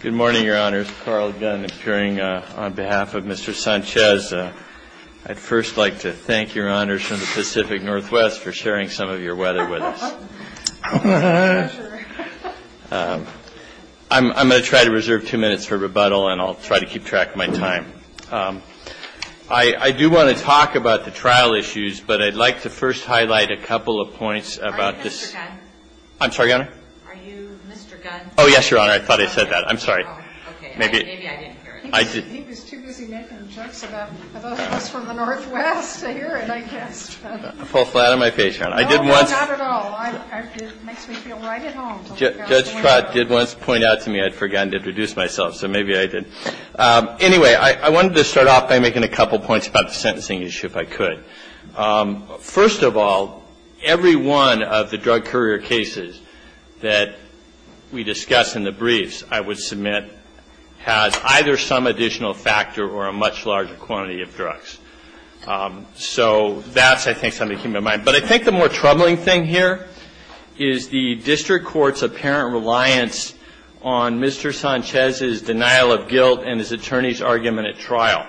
Good morning, Your Honors. Carl Gunn, appearing on behalf of Mr. Sanchez. I'd first like to thank Your Honors from the Pacific Northwest for sharing some of your weather with us. I'm going to try to reserve two minutes for rebuttal, and I'll try to keep track of my time. I do want to talk about the trial issues, but I'd like to first highlight a couple of points about this. Are you Mr. Gunn? I'm sorry, Your Honor? Are you Mr. Gunn? Oh, yes, Your Honor. I thought I said that. I'm sorry. Okay. Maybe I didn't hear it. He was too busy making jokes about us from the Northwest to hear it, I guess. I fall flat on my face, Your Honor. No, not at all. It makes me feel right at home. Judge Trott did once point out to me I'd forgotten to introduce myself, so maybe I did. Anyway, I wanted to start off by making a couple of points about the sentencing issue, if I could. First of all, every one of the drug courier cases that we discussed in the briefs, I would submit, has either some additional factor or a much larger quantity of drugs. So that's, I think, something to keep in mind. But I think the more troubling thing here is the district court's apparent reliance on Mr. Sanchez's denial of guilt and his attorney's argument at trial.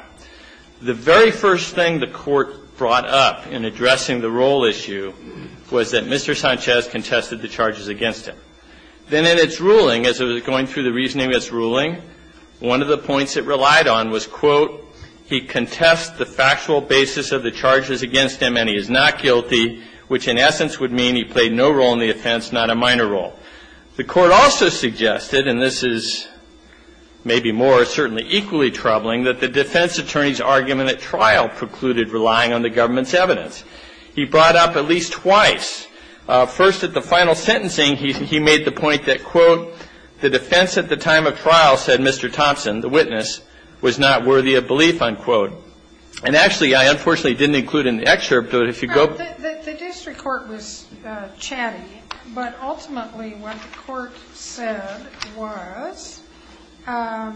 The very first thing the court brought up in addressing the role issue was that Mr. Sanchez contested the charges against him. Then in its ruling, as it was going through the reasoning of its ruling, one of the points it relied on was, quote, he contests the factual basis of the charges against him and he is not guilty, which in essence would mean he played no role in the offense, not a minor role. The court also suggested, and this is maybe more certainly equally troubling, that the defense attorney's argument at trial precluded relying on the government's evidence. He brought up at least twice. First, at the final sentencing, he made the point that, quote, the defense at the time of trial said Mr. Thompson, the witness, was not worthy of belief, unquote. And actually, I unfortunately didn't include in the excerpt, but if you go. The district court was chatty, but ultimately what the court said was, the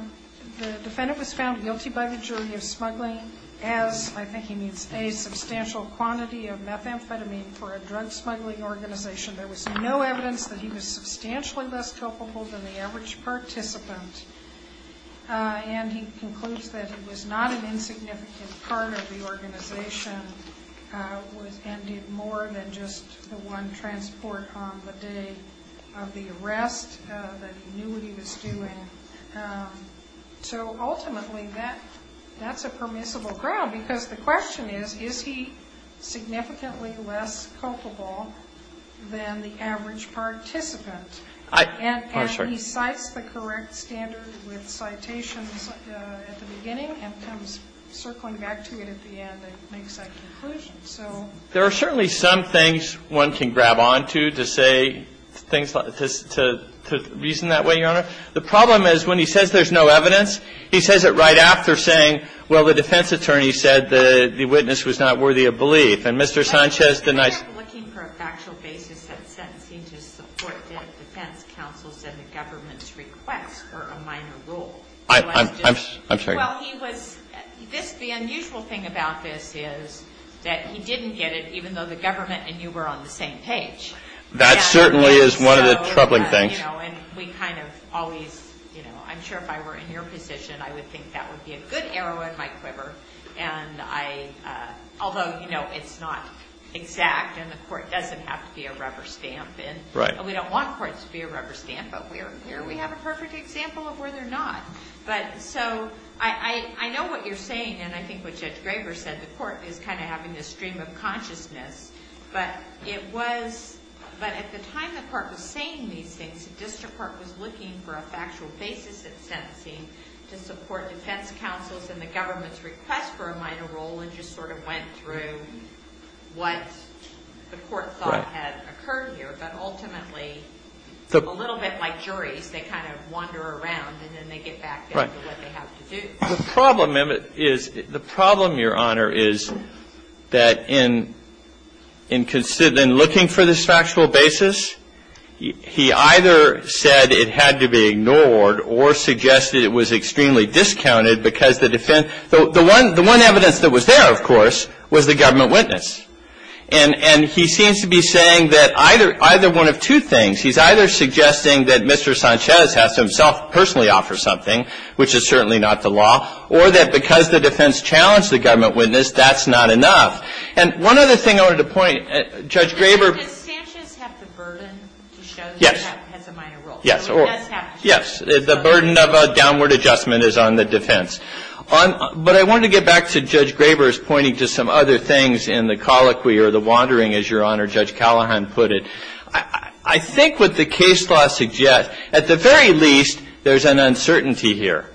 defendant was found guilty by the jury of smuggling as, I think he means a substantial quantity of methamphetamine for a drug smuggling organization. There was no evidence that he was substantially less culpable than the average participant. And he concludes that he was not an insignificant part of the organization. And did more than just the one transport on the day of the arrest, that he knew what he was doing. So ultimately, that's a permissible ground, because the question is, is he significantly less culpable than the average participant? And he cites the correct standard with citations at the beginning and comes circling back to it at the end and makes that conclusion, so. There are certainly some things one can grab onto to say things, to reason that way, Your Honor. The problem is, when he says there's no evidence, he says it right after saying, well, the defense attorney said the witness was not worthy of belief. And Mr. Sanchez denied- I'm not looking for a factual basis of sentencing to support the defense counsel's and the government's request for a minor rule. I'm sorry. Well, he was, the unusual thing about this is that he didn't get it, even though the government and you were on the same page. That certainly is one of the troubling things. And we kind of always, I'm sure if I were in your position, I would think that would be a good arrow in my quiver. And I, although it's not exact, and the court doesn't have to be a rubber stamp. And we don't want courts to be a rubber stamp, but here we have a perfect example of where they're not. But so, I know what you're saying, and I think what Judge Graber said, the court is kind of having this stream of consciousness. But it was, but at the time the court was saying these things, the district court was looking for a factual basis of sentencing to support defense counsel's and the government's request for a minor rule. And just sort of went through what the court thought had occurred here. But ultimately, a little bit like juries, they kind of wander around and then they get back to what they have to do. The problem is, the problem, Your Honor, is that in looking for this factual basis, he either said it had to be ignored or suggested it was extremely discounted because the defense, the one evidence that was there, of course, was the government witness. And he seems to be saying that either one of two things. He's either suggesting that Mr. Sanchez has to himself personally offer something, which is certainly not the law. Or that because the defense challenged the government witness, that's not enough. And one other thing I wanted to point, Judge Graber- Does Sanchez have the burden to show that he has a minor rule? Yes. Yes, the burden of a downward adjustment is on the defense. But I wanted to get back to Judge Graber's pointing to some other things in the colloquy or the wandering, as Your Honor, Judge Callahan put it. I think what the case law suggests, at the very least, there's an uncertainty here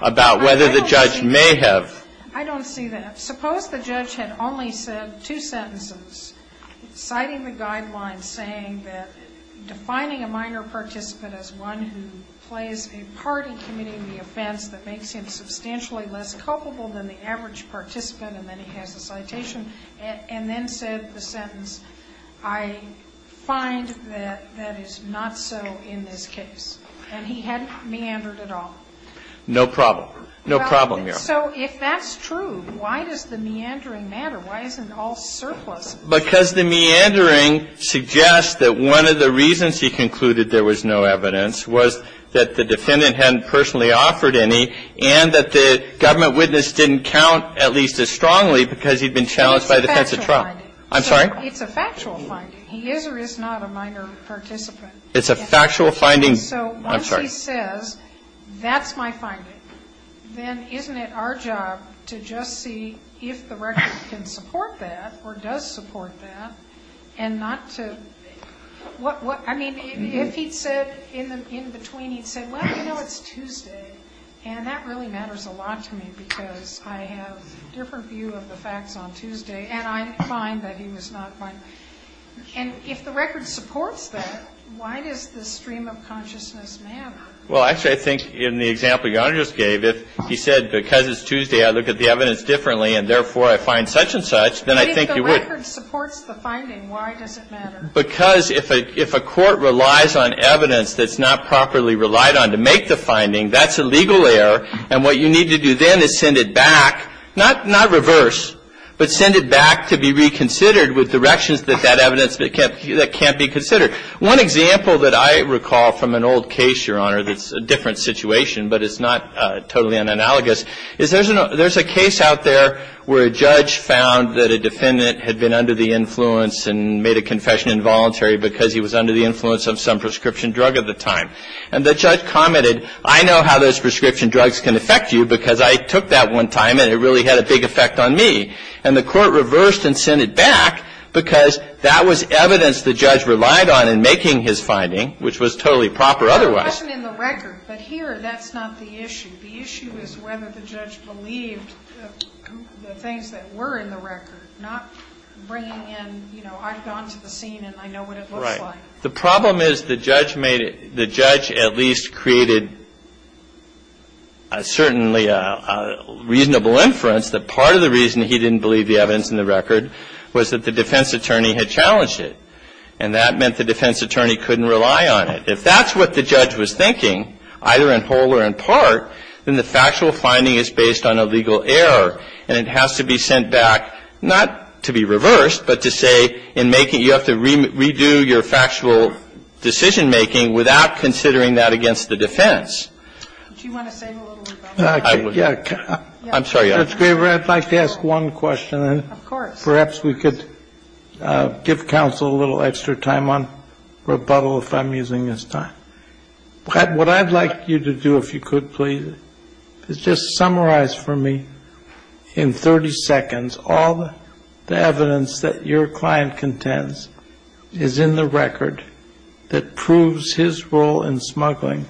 about whether the judge may have- I don't see that. Suppose the judge had only said two sentences, citing the guidelines saying that defining a minor participant as one who plays a part in committing the offense that makes him substantially less culpable than the average participant, and then he has a citation, and then said the sentence, I find that that is not so in this case. And he hadn't meandered at all. No problem. No problem, Your Honor. So if that's true, why does the meandering matter? Why isn't all surplus? Because the meandering suggests that one of the reasons he concluded there was no evidence was that the defendant hadn't personally offered any, and that the government witness didn't count at least as strongly because he'd been challenged by the defense of trial. It's a factual finding. I'm sorry? It's a factual finding. He is or is not a minor participant. It's a factual finding. I'm sorry. If he says, that's my finding, then isn't it our job to just see if the record can support that, or does support that, and not to, I mean, if he'd said, in between he'd said, well, you know, it's Tuesday, and that really matters a lot to me because I have a different view of the facts on Tuesday, and I find that he was not minor. And if the record supports that, why does the stream of consciousness matter? Well, actually, I think in the example Your Honor just gave, if he said, because it's Tuesday, I look at the evidence differently, and therefore, I find such and such, then I think he would. But if the record supports the finding, why does it matter? Because if a court relies on evidence that's not properly relied on to make the finding, that's a legal error, and what you need to do then is send it back, not reverse, but send it back to be reconsidered with directions that that evidence can't be considered. One example that I recall from an old case, Your Honor, that's a different situation, but it's not totally unanalogous, is there's a case out there where a judge found that a defendant had been under the influence and made a confession involuntary because he was under the influence of some prescription drug at the time. And the judge commented, I know how those prescription drugs can affect you because I took that one time, and it really had a big effect on me. And the court reversed and sent it back because that was evidence the judge relied on in making his finding, which was totally proper otherwise. I know it wasn't in the record, but here, that's not the issue. The issue is whether the judge believed the things that were in the record, not bringing in, you know, I've gone to the scene, and I know what it looks like. The problem is the judge made it, the judge at least created certainly a reasonable inference that part of the reason he didn't believe the evidence in the record was that the defense attorney had challenged it. And that meant the defense attorney couldn't rely on it. If that's what the judge was thinking, either in whole or in part, then the factual finding is based on a legal error. And it has to be sent back, not to be reversed, but to say in making, you have to redo your factual decision making without considering that against the defense. Do you want to say a little rebuttal? I'm sorry. Judge Graber, I'd like to ask one question. Of course. Perhaps we could give counsel a little extra time on rebuttal if I'm using this time. What I'd like you to do, if you could, please, is just summarize for me in 30 seconds all the evidence that your client contends is in the record that proves his role in smuggling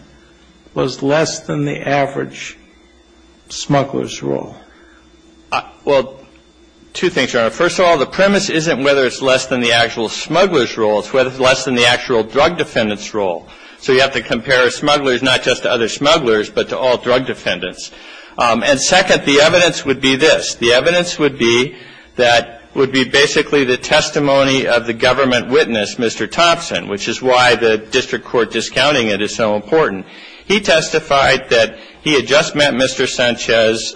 was less than the average smuggler's role. Well, two things, Your Honor. First of all, the premise isn't whether it's less than the actual smuggler's role. It's whether it's less than the actual drug defendant's role. So you have to compare smugglers not just to other smugglers, but to all drug defendants. And second, the evidence would be this. The evidence would be that would be basically the testimony of the government witness, Mr. Thompson, which is why the district court discounting it is so important. He testified that he had just met Mr. Sanchez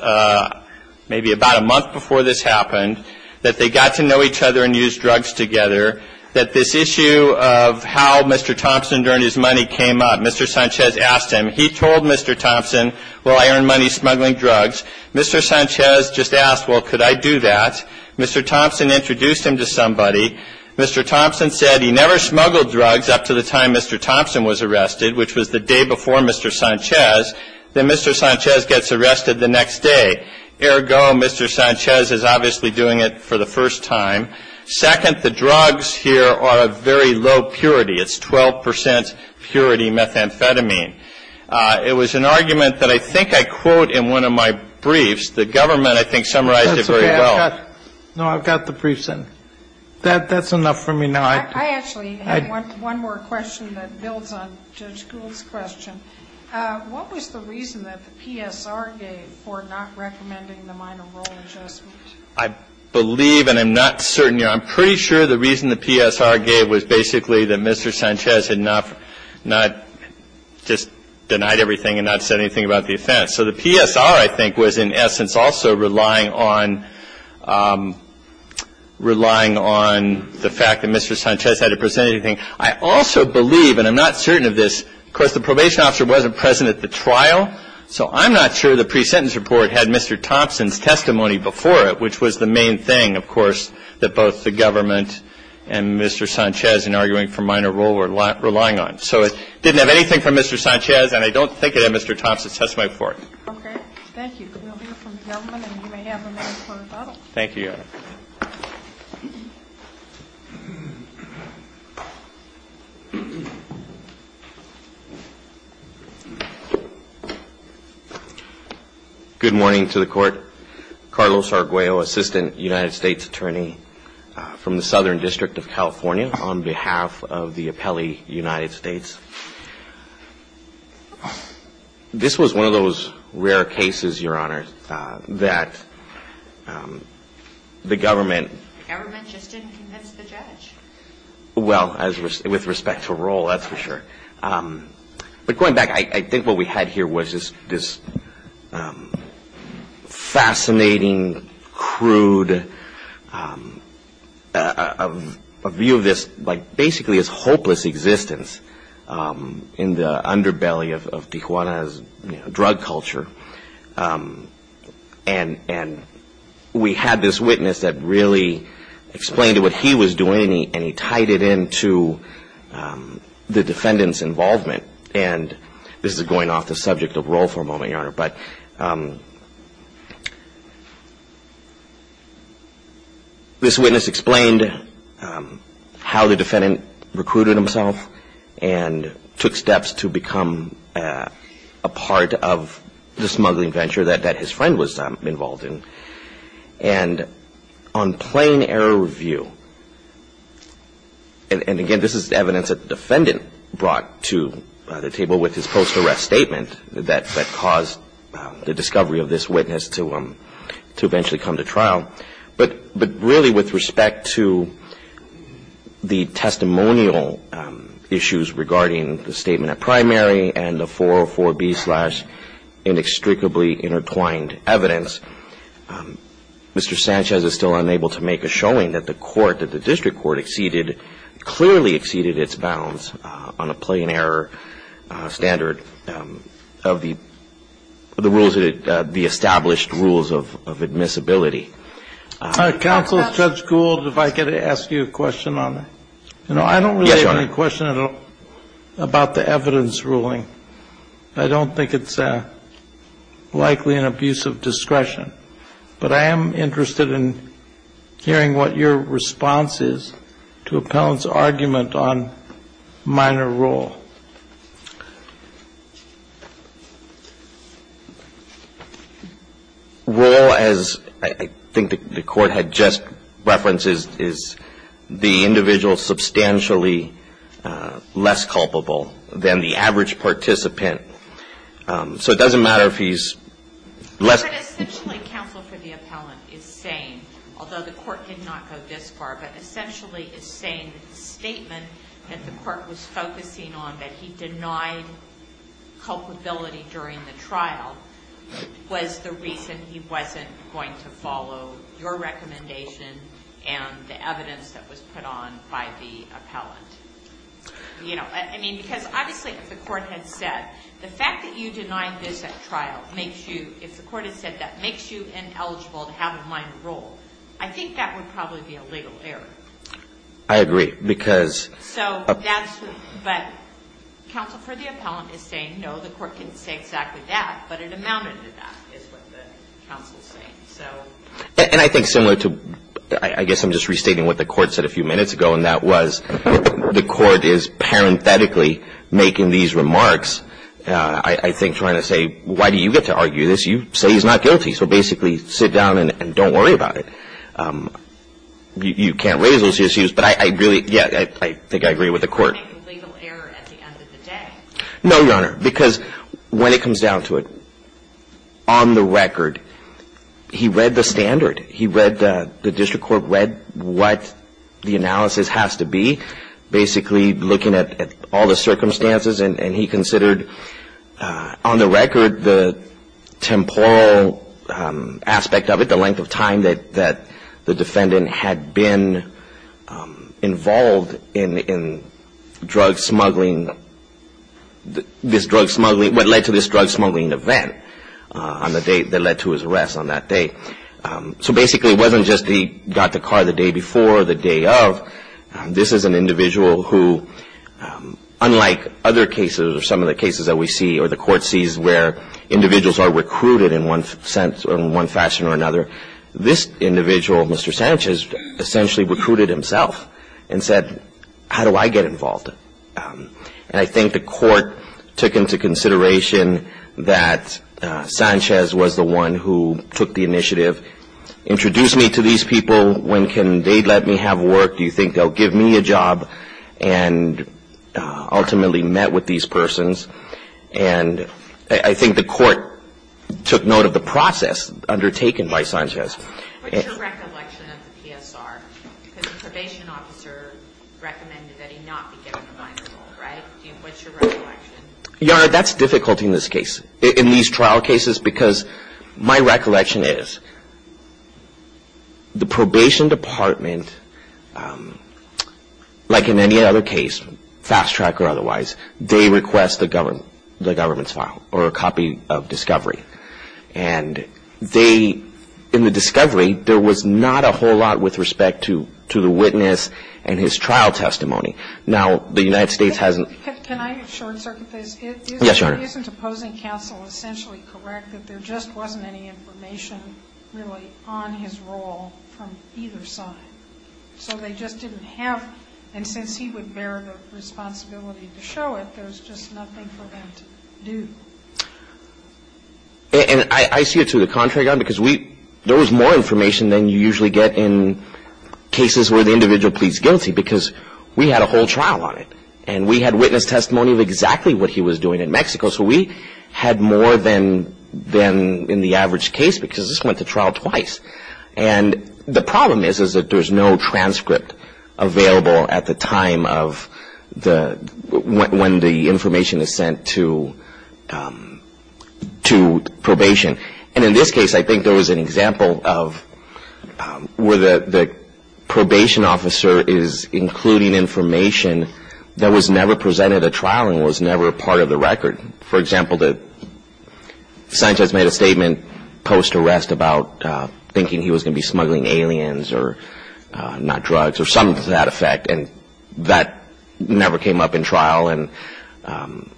maybe about a month before this happened, that they got to know each other and used drugs together, that this issue of how Mr. Thompson earned his money came up. Mr. Sanchez asked him. He told Mr. Thompson, well, I earn money smuggling drugs. Mr. Sanchez just asked, well, could I do that? Mr. Thompson introduced him to somebody. Mr. Thompson said he never smuggled drugs up to the time Mr. Thompson was arrested, which was the day before Mr. Sanchez. Then Mr. Sanchez gets arrested the next day. Ergo, Mr. Sanchez is obviously doing it for the first time. Second, the drugs here are of very low purity. It's 12 percent purity methamphetamine. It was an argument that I think I quote in one of my briefs. The government, I think, summarized it very well. No, I've got the briefs in. That's enough for me now. I actually have one more question that builds on Judge Gould's question. What was the reason that the PSR gave for not recommending the minor role adjustment? I believe and I'm not certain. I'm pretty sure the reason the PSR gave was basically that Mr. Sanchez had not just denied everything and not said anything about the offense. So the PSR, I think, was in essence also relying on the fact that Mr. Sanchez had to present anything. I also believe, and I'm not certain of this, of course, the probation officer wasn't present at the trial. So I'm not sure the pre-sentence report had Mr. Thompson's testimony before it, which was the main thing, of course, that both the government and Mr. Sanchez in arguing for minor role were relying on. So it didn't have anything from Mr. Sanchez and I don't think it had Mr. Thompson's testimony before it. Okay. Thank you. We'll hear from the government and you may have a minute to close the bottle. Thank you. Good morning to the court. Carlos Arguello, Assistant United States Attorney from the Southern District of California on behalf of the Appellee United States. This was one of those rare cases, Your Honor, that the government... The government just didn't convince the judge. Well, with respect to role, that's for sure. But going back, I think what we had here was this fascinating, crude view of this, like basically this hopeless existence in the underbelly of Tijuana's drug culture. And we had this witness that really explained to what he was doing and he tied it into the defendant's involvement. And this is going off the subject of role for a moment, Your Honor, but this witness explained how the defendant recruited himself and took steps to become a part of the smuggling venture that his friend was involved in. And on plain error of view, and again, this is evidence that the defendant brought to the table with his post-arrest statement that caused the discovery of this witness to eventually come to trial. But really, with respect to the testimonial issues regarding the statement at primary and the 404B-slash-inextricably intertwined evidence, Mr. Sanchez is still unable to make a showing that the court, that the district court exceeded, clearly exceeded its bounds on a plain error standard of the established rules of admissibility. Counsel, Judge Gould, if I could ask you a question on it. Yes, Your Honor. I don't really have any question at all about the evidence ruling. I don't think it's likely an abuse of discretion. But I am interested in hearing what your response is to appellant's argument on minor role. Role, as I think the court had just referenced, is the individual substantially less culpable than the average participant. So it doesn't matter if he's less... But essentially, counsel for the appellant is saying, although the court did not go this far, but essentially is saying that the statement that the court was focusing on, that he denied culpability during the trial, was the reason he wasn't going to follow your recommendation and the evidence that was put on by the appellant. You know, I mean, because obviously, if the court had said, the fact that you denied this at trial makes you, if the court had said that, makes you ineligible to have a minor role. I think that would probably be a legal error. I agree, because... So that's... But counsel for the appellant is saying, no, the court didn't say exactly that, but it amounted to that, is what the counsel is saying. And I think similar to, I guess I'm just restating what the court said a few minutes ago, and that was, the court is parenthetically making these remarks, I think trying to say, why do you get to argue this? You say he's not guilty. So basically, sit down and don't worry about it. You can't raise those issues, but I really, yeah, I think I agree with the court. It's not a legal error at the end of the day. No, Your Honor, because when it comes down to it, on the record, he read the standard. He read, the district court read what the analysis has to be, basically looking at all the circumstances, and he considered, on the record, the temporal aspect of it, the length of time that the defendant had been involved in drug smuggling, this drug smuggling, what led to this drug smuggling event on the day that led to his arrest on that day. So basically, it wasn't just he got the car the day before or the day of. This is an individual who, unlike other cases or some of the cases that we see or the court sees where individuals are recruited in one sense or one fashion or another, this individual, Mr. Sanchez, essentially recruited himself and said, how do I get involved? And I think the court took into consideration that Sanchez was the one who took the initiative. Introduce me to these people. When can they let me have work? Do you think they'll give me a job? And ultimately met with these persons. And I think the court took note of the process undertaken by Sanchez. What's your recollection of the PSR? Because the probation officer recommended that he not be given the minor role, right? What's your recollection? Yara, that's difficulty in this case, in these trial cases, because my recollection is the probation department, like in any other case, fast track or otherwise, they request the government's file or a copy of discovery. And they, in the discovery, there was not a whole lot with respect to the witness and his trial testimony. Now, the United States hasn't... Can I short-circuit this? Yes, Your Honor. Isn't opposing counsel essentially correct that there just wasn't any information really on his role from either side? So they just didn't have... And since he would bear the responsibility to show it, there's just nothing for them to do. And I see it to the contrary, Your Honor, because we... There was more information than you usually get in cases where the individual pleads guilty, because we had a whole trial on it. And we had witness testimony of exactly what he was doing in Mexico. So we had more than in the average case, because this went to trial twice. And the problem is that there's no transcript available at the time of when the information is sent to probation. And in this case, I think there was an example of where the probation officer is including information that was never presented at trial and was never part of the record. For example, the scientist made a statement post-arrest about thinking he was going to be smuggling aliens, or not drugs, or something to that effect. And that never came up in trial. So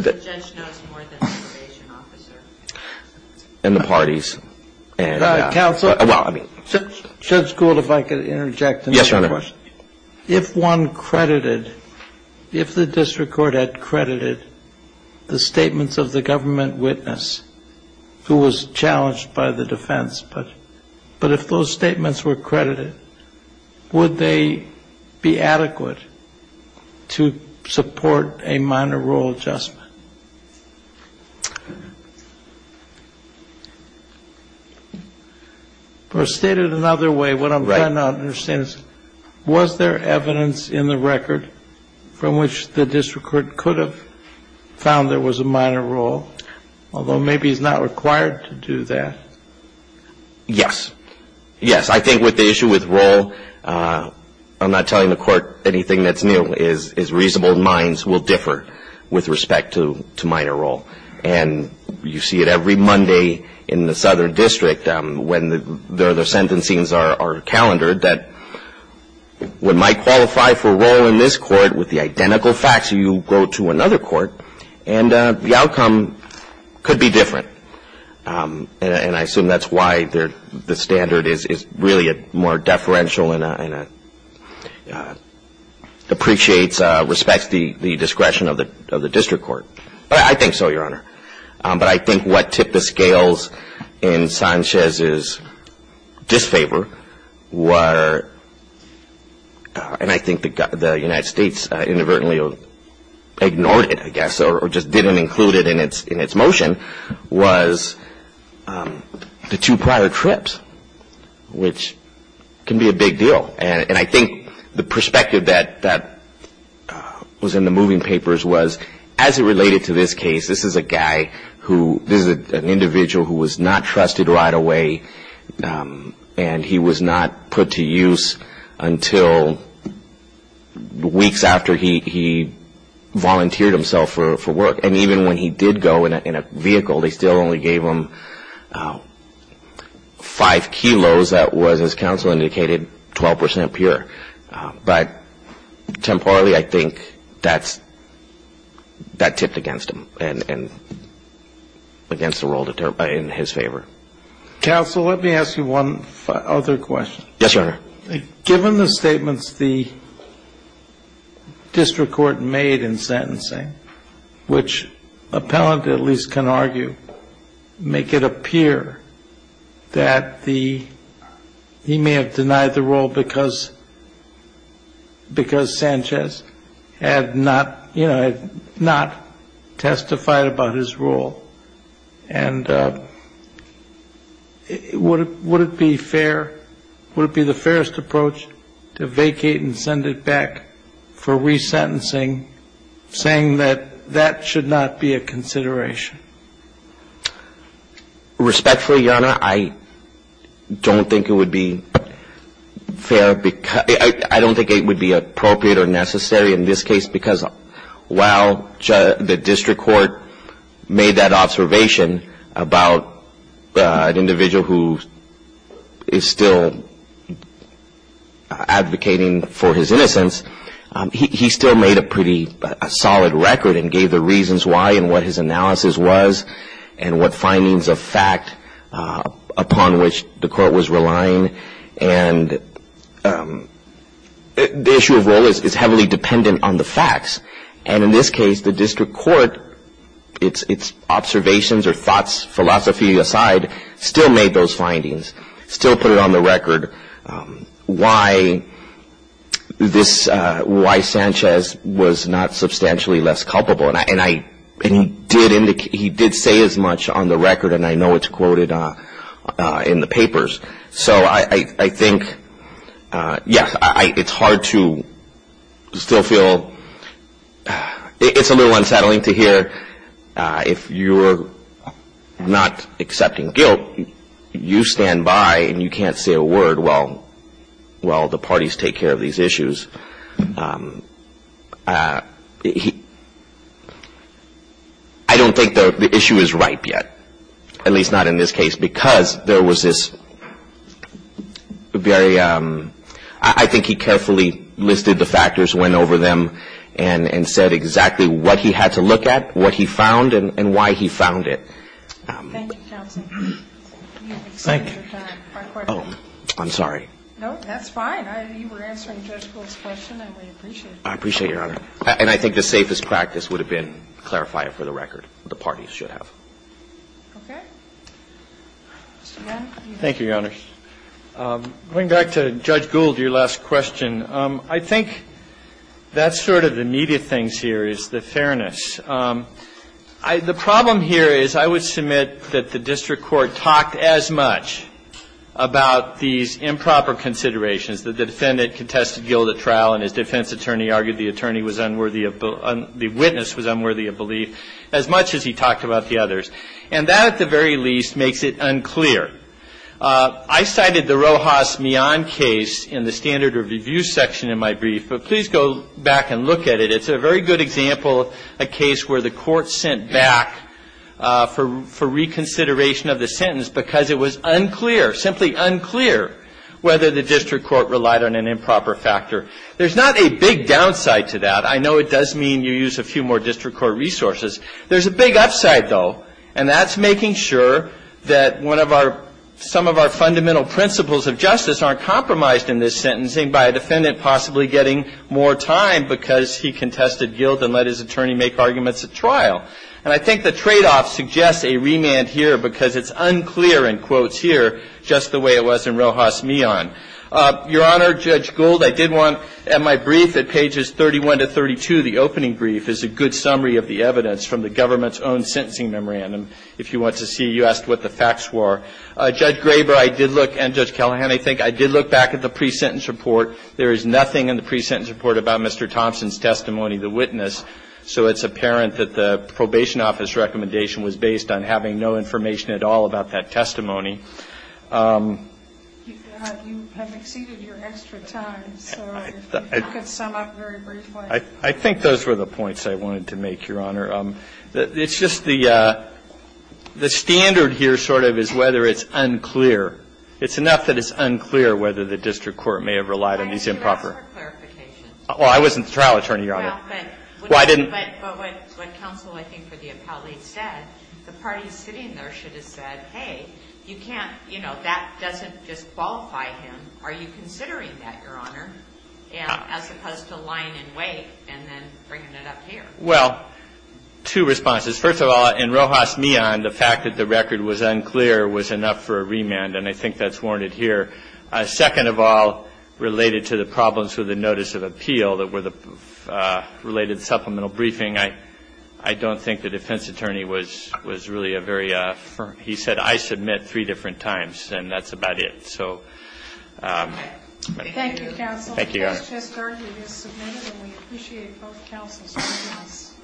the judge knows more than the probation officer? And the parties. Counsel, Judge Gould, if I could interject. Yes, Your Honor. If one credited, if the district court had credited the statements of the government witness who was challenged by the defense, but if those statements were credited, would they be adequate to support a minor rule adjustment? Or stated another way, what I'm trying to understand is, was there evidence in the record from which the district court could have found there was a minor rule, although maybe he's not required to do that? Yes. Yes, I think with the issue with role, I'm not telling the court anything that's new, is reasonable minds will differ with respect to minor role. And you see it every Monday in the Southern District when the sentencing are calendared that one might qualify for a role in this court with the identical facts, and you go to another court, and the outcome could be different. And I assume that's why the standard is really more deferential and appreciates, respects the discretion of the district court. I think so, Your Honor. But I think what tipped the scales in Sanchez's disfavor were, and I think the United States inadvertently ignored it, I guess, or just didn't include it in its motion, was the two prior trips, which can be a big deal. And I think the perspective that was in the moving papers was, as it related to this case, this is a guy who, this is an individual who was not trusted right away, and he was not put to use until weeks after he volunteered himself for work. And even when he did go in a vehicle, they still only gave him five kilos. That was, as counsel indicated, 12 percent pure. But temporarily, I think that's, that tipped against him and against the role in his favor. Counsel, let me ask you one other question. Yes, Your Honor. Given the statements the district court made in sentencing, which appellant at least can argue, make it appear that the, he may have denied the role because, because Sanchez had not, you know, had not testified about his role. And would it be fair, would it be the fairest approach to vacate and send it back for resentencing, saying that that should not be a consideration? Respectfully, Your Honor, I don't think it would be fair, I don't think it would be appropriate or necessary in this case, because while the district court made that observation about an individual who is still advocating for his innocence, he still made a pretty solid record and gave the reasons why and what his analysis was, and what findings of fact upon which the court was relying. And the issue of role is heavily dependent on the facts. And in this case, the district court, its observations or thoughts, philosophy aside, still made those findings, still put it on the record, why this, why Sanchez was not substantially less culpable. And I, and he did indicate, he did say as much on the record, and I know it's quoted in the papers. So I think, yeah, it's hard to still feel, it's a little unsettling to hear, if you're not accepting guilt, you stand by and you can't say a word while the parties take care of these issues. I don't think the issue is ripe yet, at least not in this case, because there was this very, I think he carefully listed the factors, went over them, and said exactly what he had to look at, what he found, and why he found it. Thank you, counsel. Thank you. Oh, I'm sorry. No, that's fine. You were answering Judge Bull's question, and we appreciate that. I appreciate it, Your Honor. And I think the safest practice would have been clarify it for the record, the parties should have. Okay. Mr. Gannon. Thank you, Your Honor. Going back to Judge Gould, your last question, I think that's sort of the meat of things here, is the fairness. I, the problem here is I would submit that the district court talked as much about these improper considerations, that the defendant contested guilt at trial and his defense attorney argued the witness was unworthy of belief, as much as he talked about the others. And that, at the very least, makes it unclear. I cited the Rojas-Mion case in the standard of review section in my brief, but please go back and look at it. It's a very good example, a case where the court sent back for reconsideration of the sentence because it was unclear, simply unclear, whether the district court relied on an improper factor. There's not a big downside to that. I know it does mean you use a few more district court resources. There's a big upside, though, and that's making sure that one of our, some of our fundamental principles of justice aren't compromised in this sentencing by a defendant possibly getting more time because he contested guilt and let his attorney make arguments at trial. And I think the tradeoff suggests a remand here because it's unclear in quotes here just the way it was in Rojas-Mion. Your Honor, Judge Gould, I did want, in my brief at pages 31 to 32, the opening brief is a good summary of the evidence from the government's own sentencing memorandum. If you want to see, you asked what the facts were. Judge Graber, I did look, and Judge Callahan, I think, I did look back at the pre-sentence report. There is nothing in the pre-sentence report about Mr. Thompson's testimony, the witness, so it's apparent that the probation office recommendation was based on having no information at all about that testimony. Sotomayor, you have exceeded your extra time, so if you could sum up very briefly. I think those were the points I wanted to make, Your Honor. It's just the standard here sort of is whether it's unclear. It's enough that it's unclear whether the district court may have relied on these improper. Why didn't you ask for clarification? Well, I wasn't the trial attorney, Your Honor. Well, but what counsel, I think, for the appellate said, the parties sitting there should have said, hey, you can't, you know, that doesn't just qualify him. Are you considering that, Your Honor? And as opposed to lying in wait and then bringing it up here. Well, two responses. First of all, in Rojas Neon, the fact that the record was unclear was enough for a remand, and I think that's warranted here. Second of all, related to the problems with the notice of appeal that were the related He said, I submit three different times, and that's about it. So. Thank you, counsel. Thank you, Your Honor. The case has currently been submitted, and we appreciate both counsels joining us.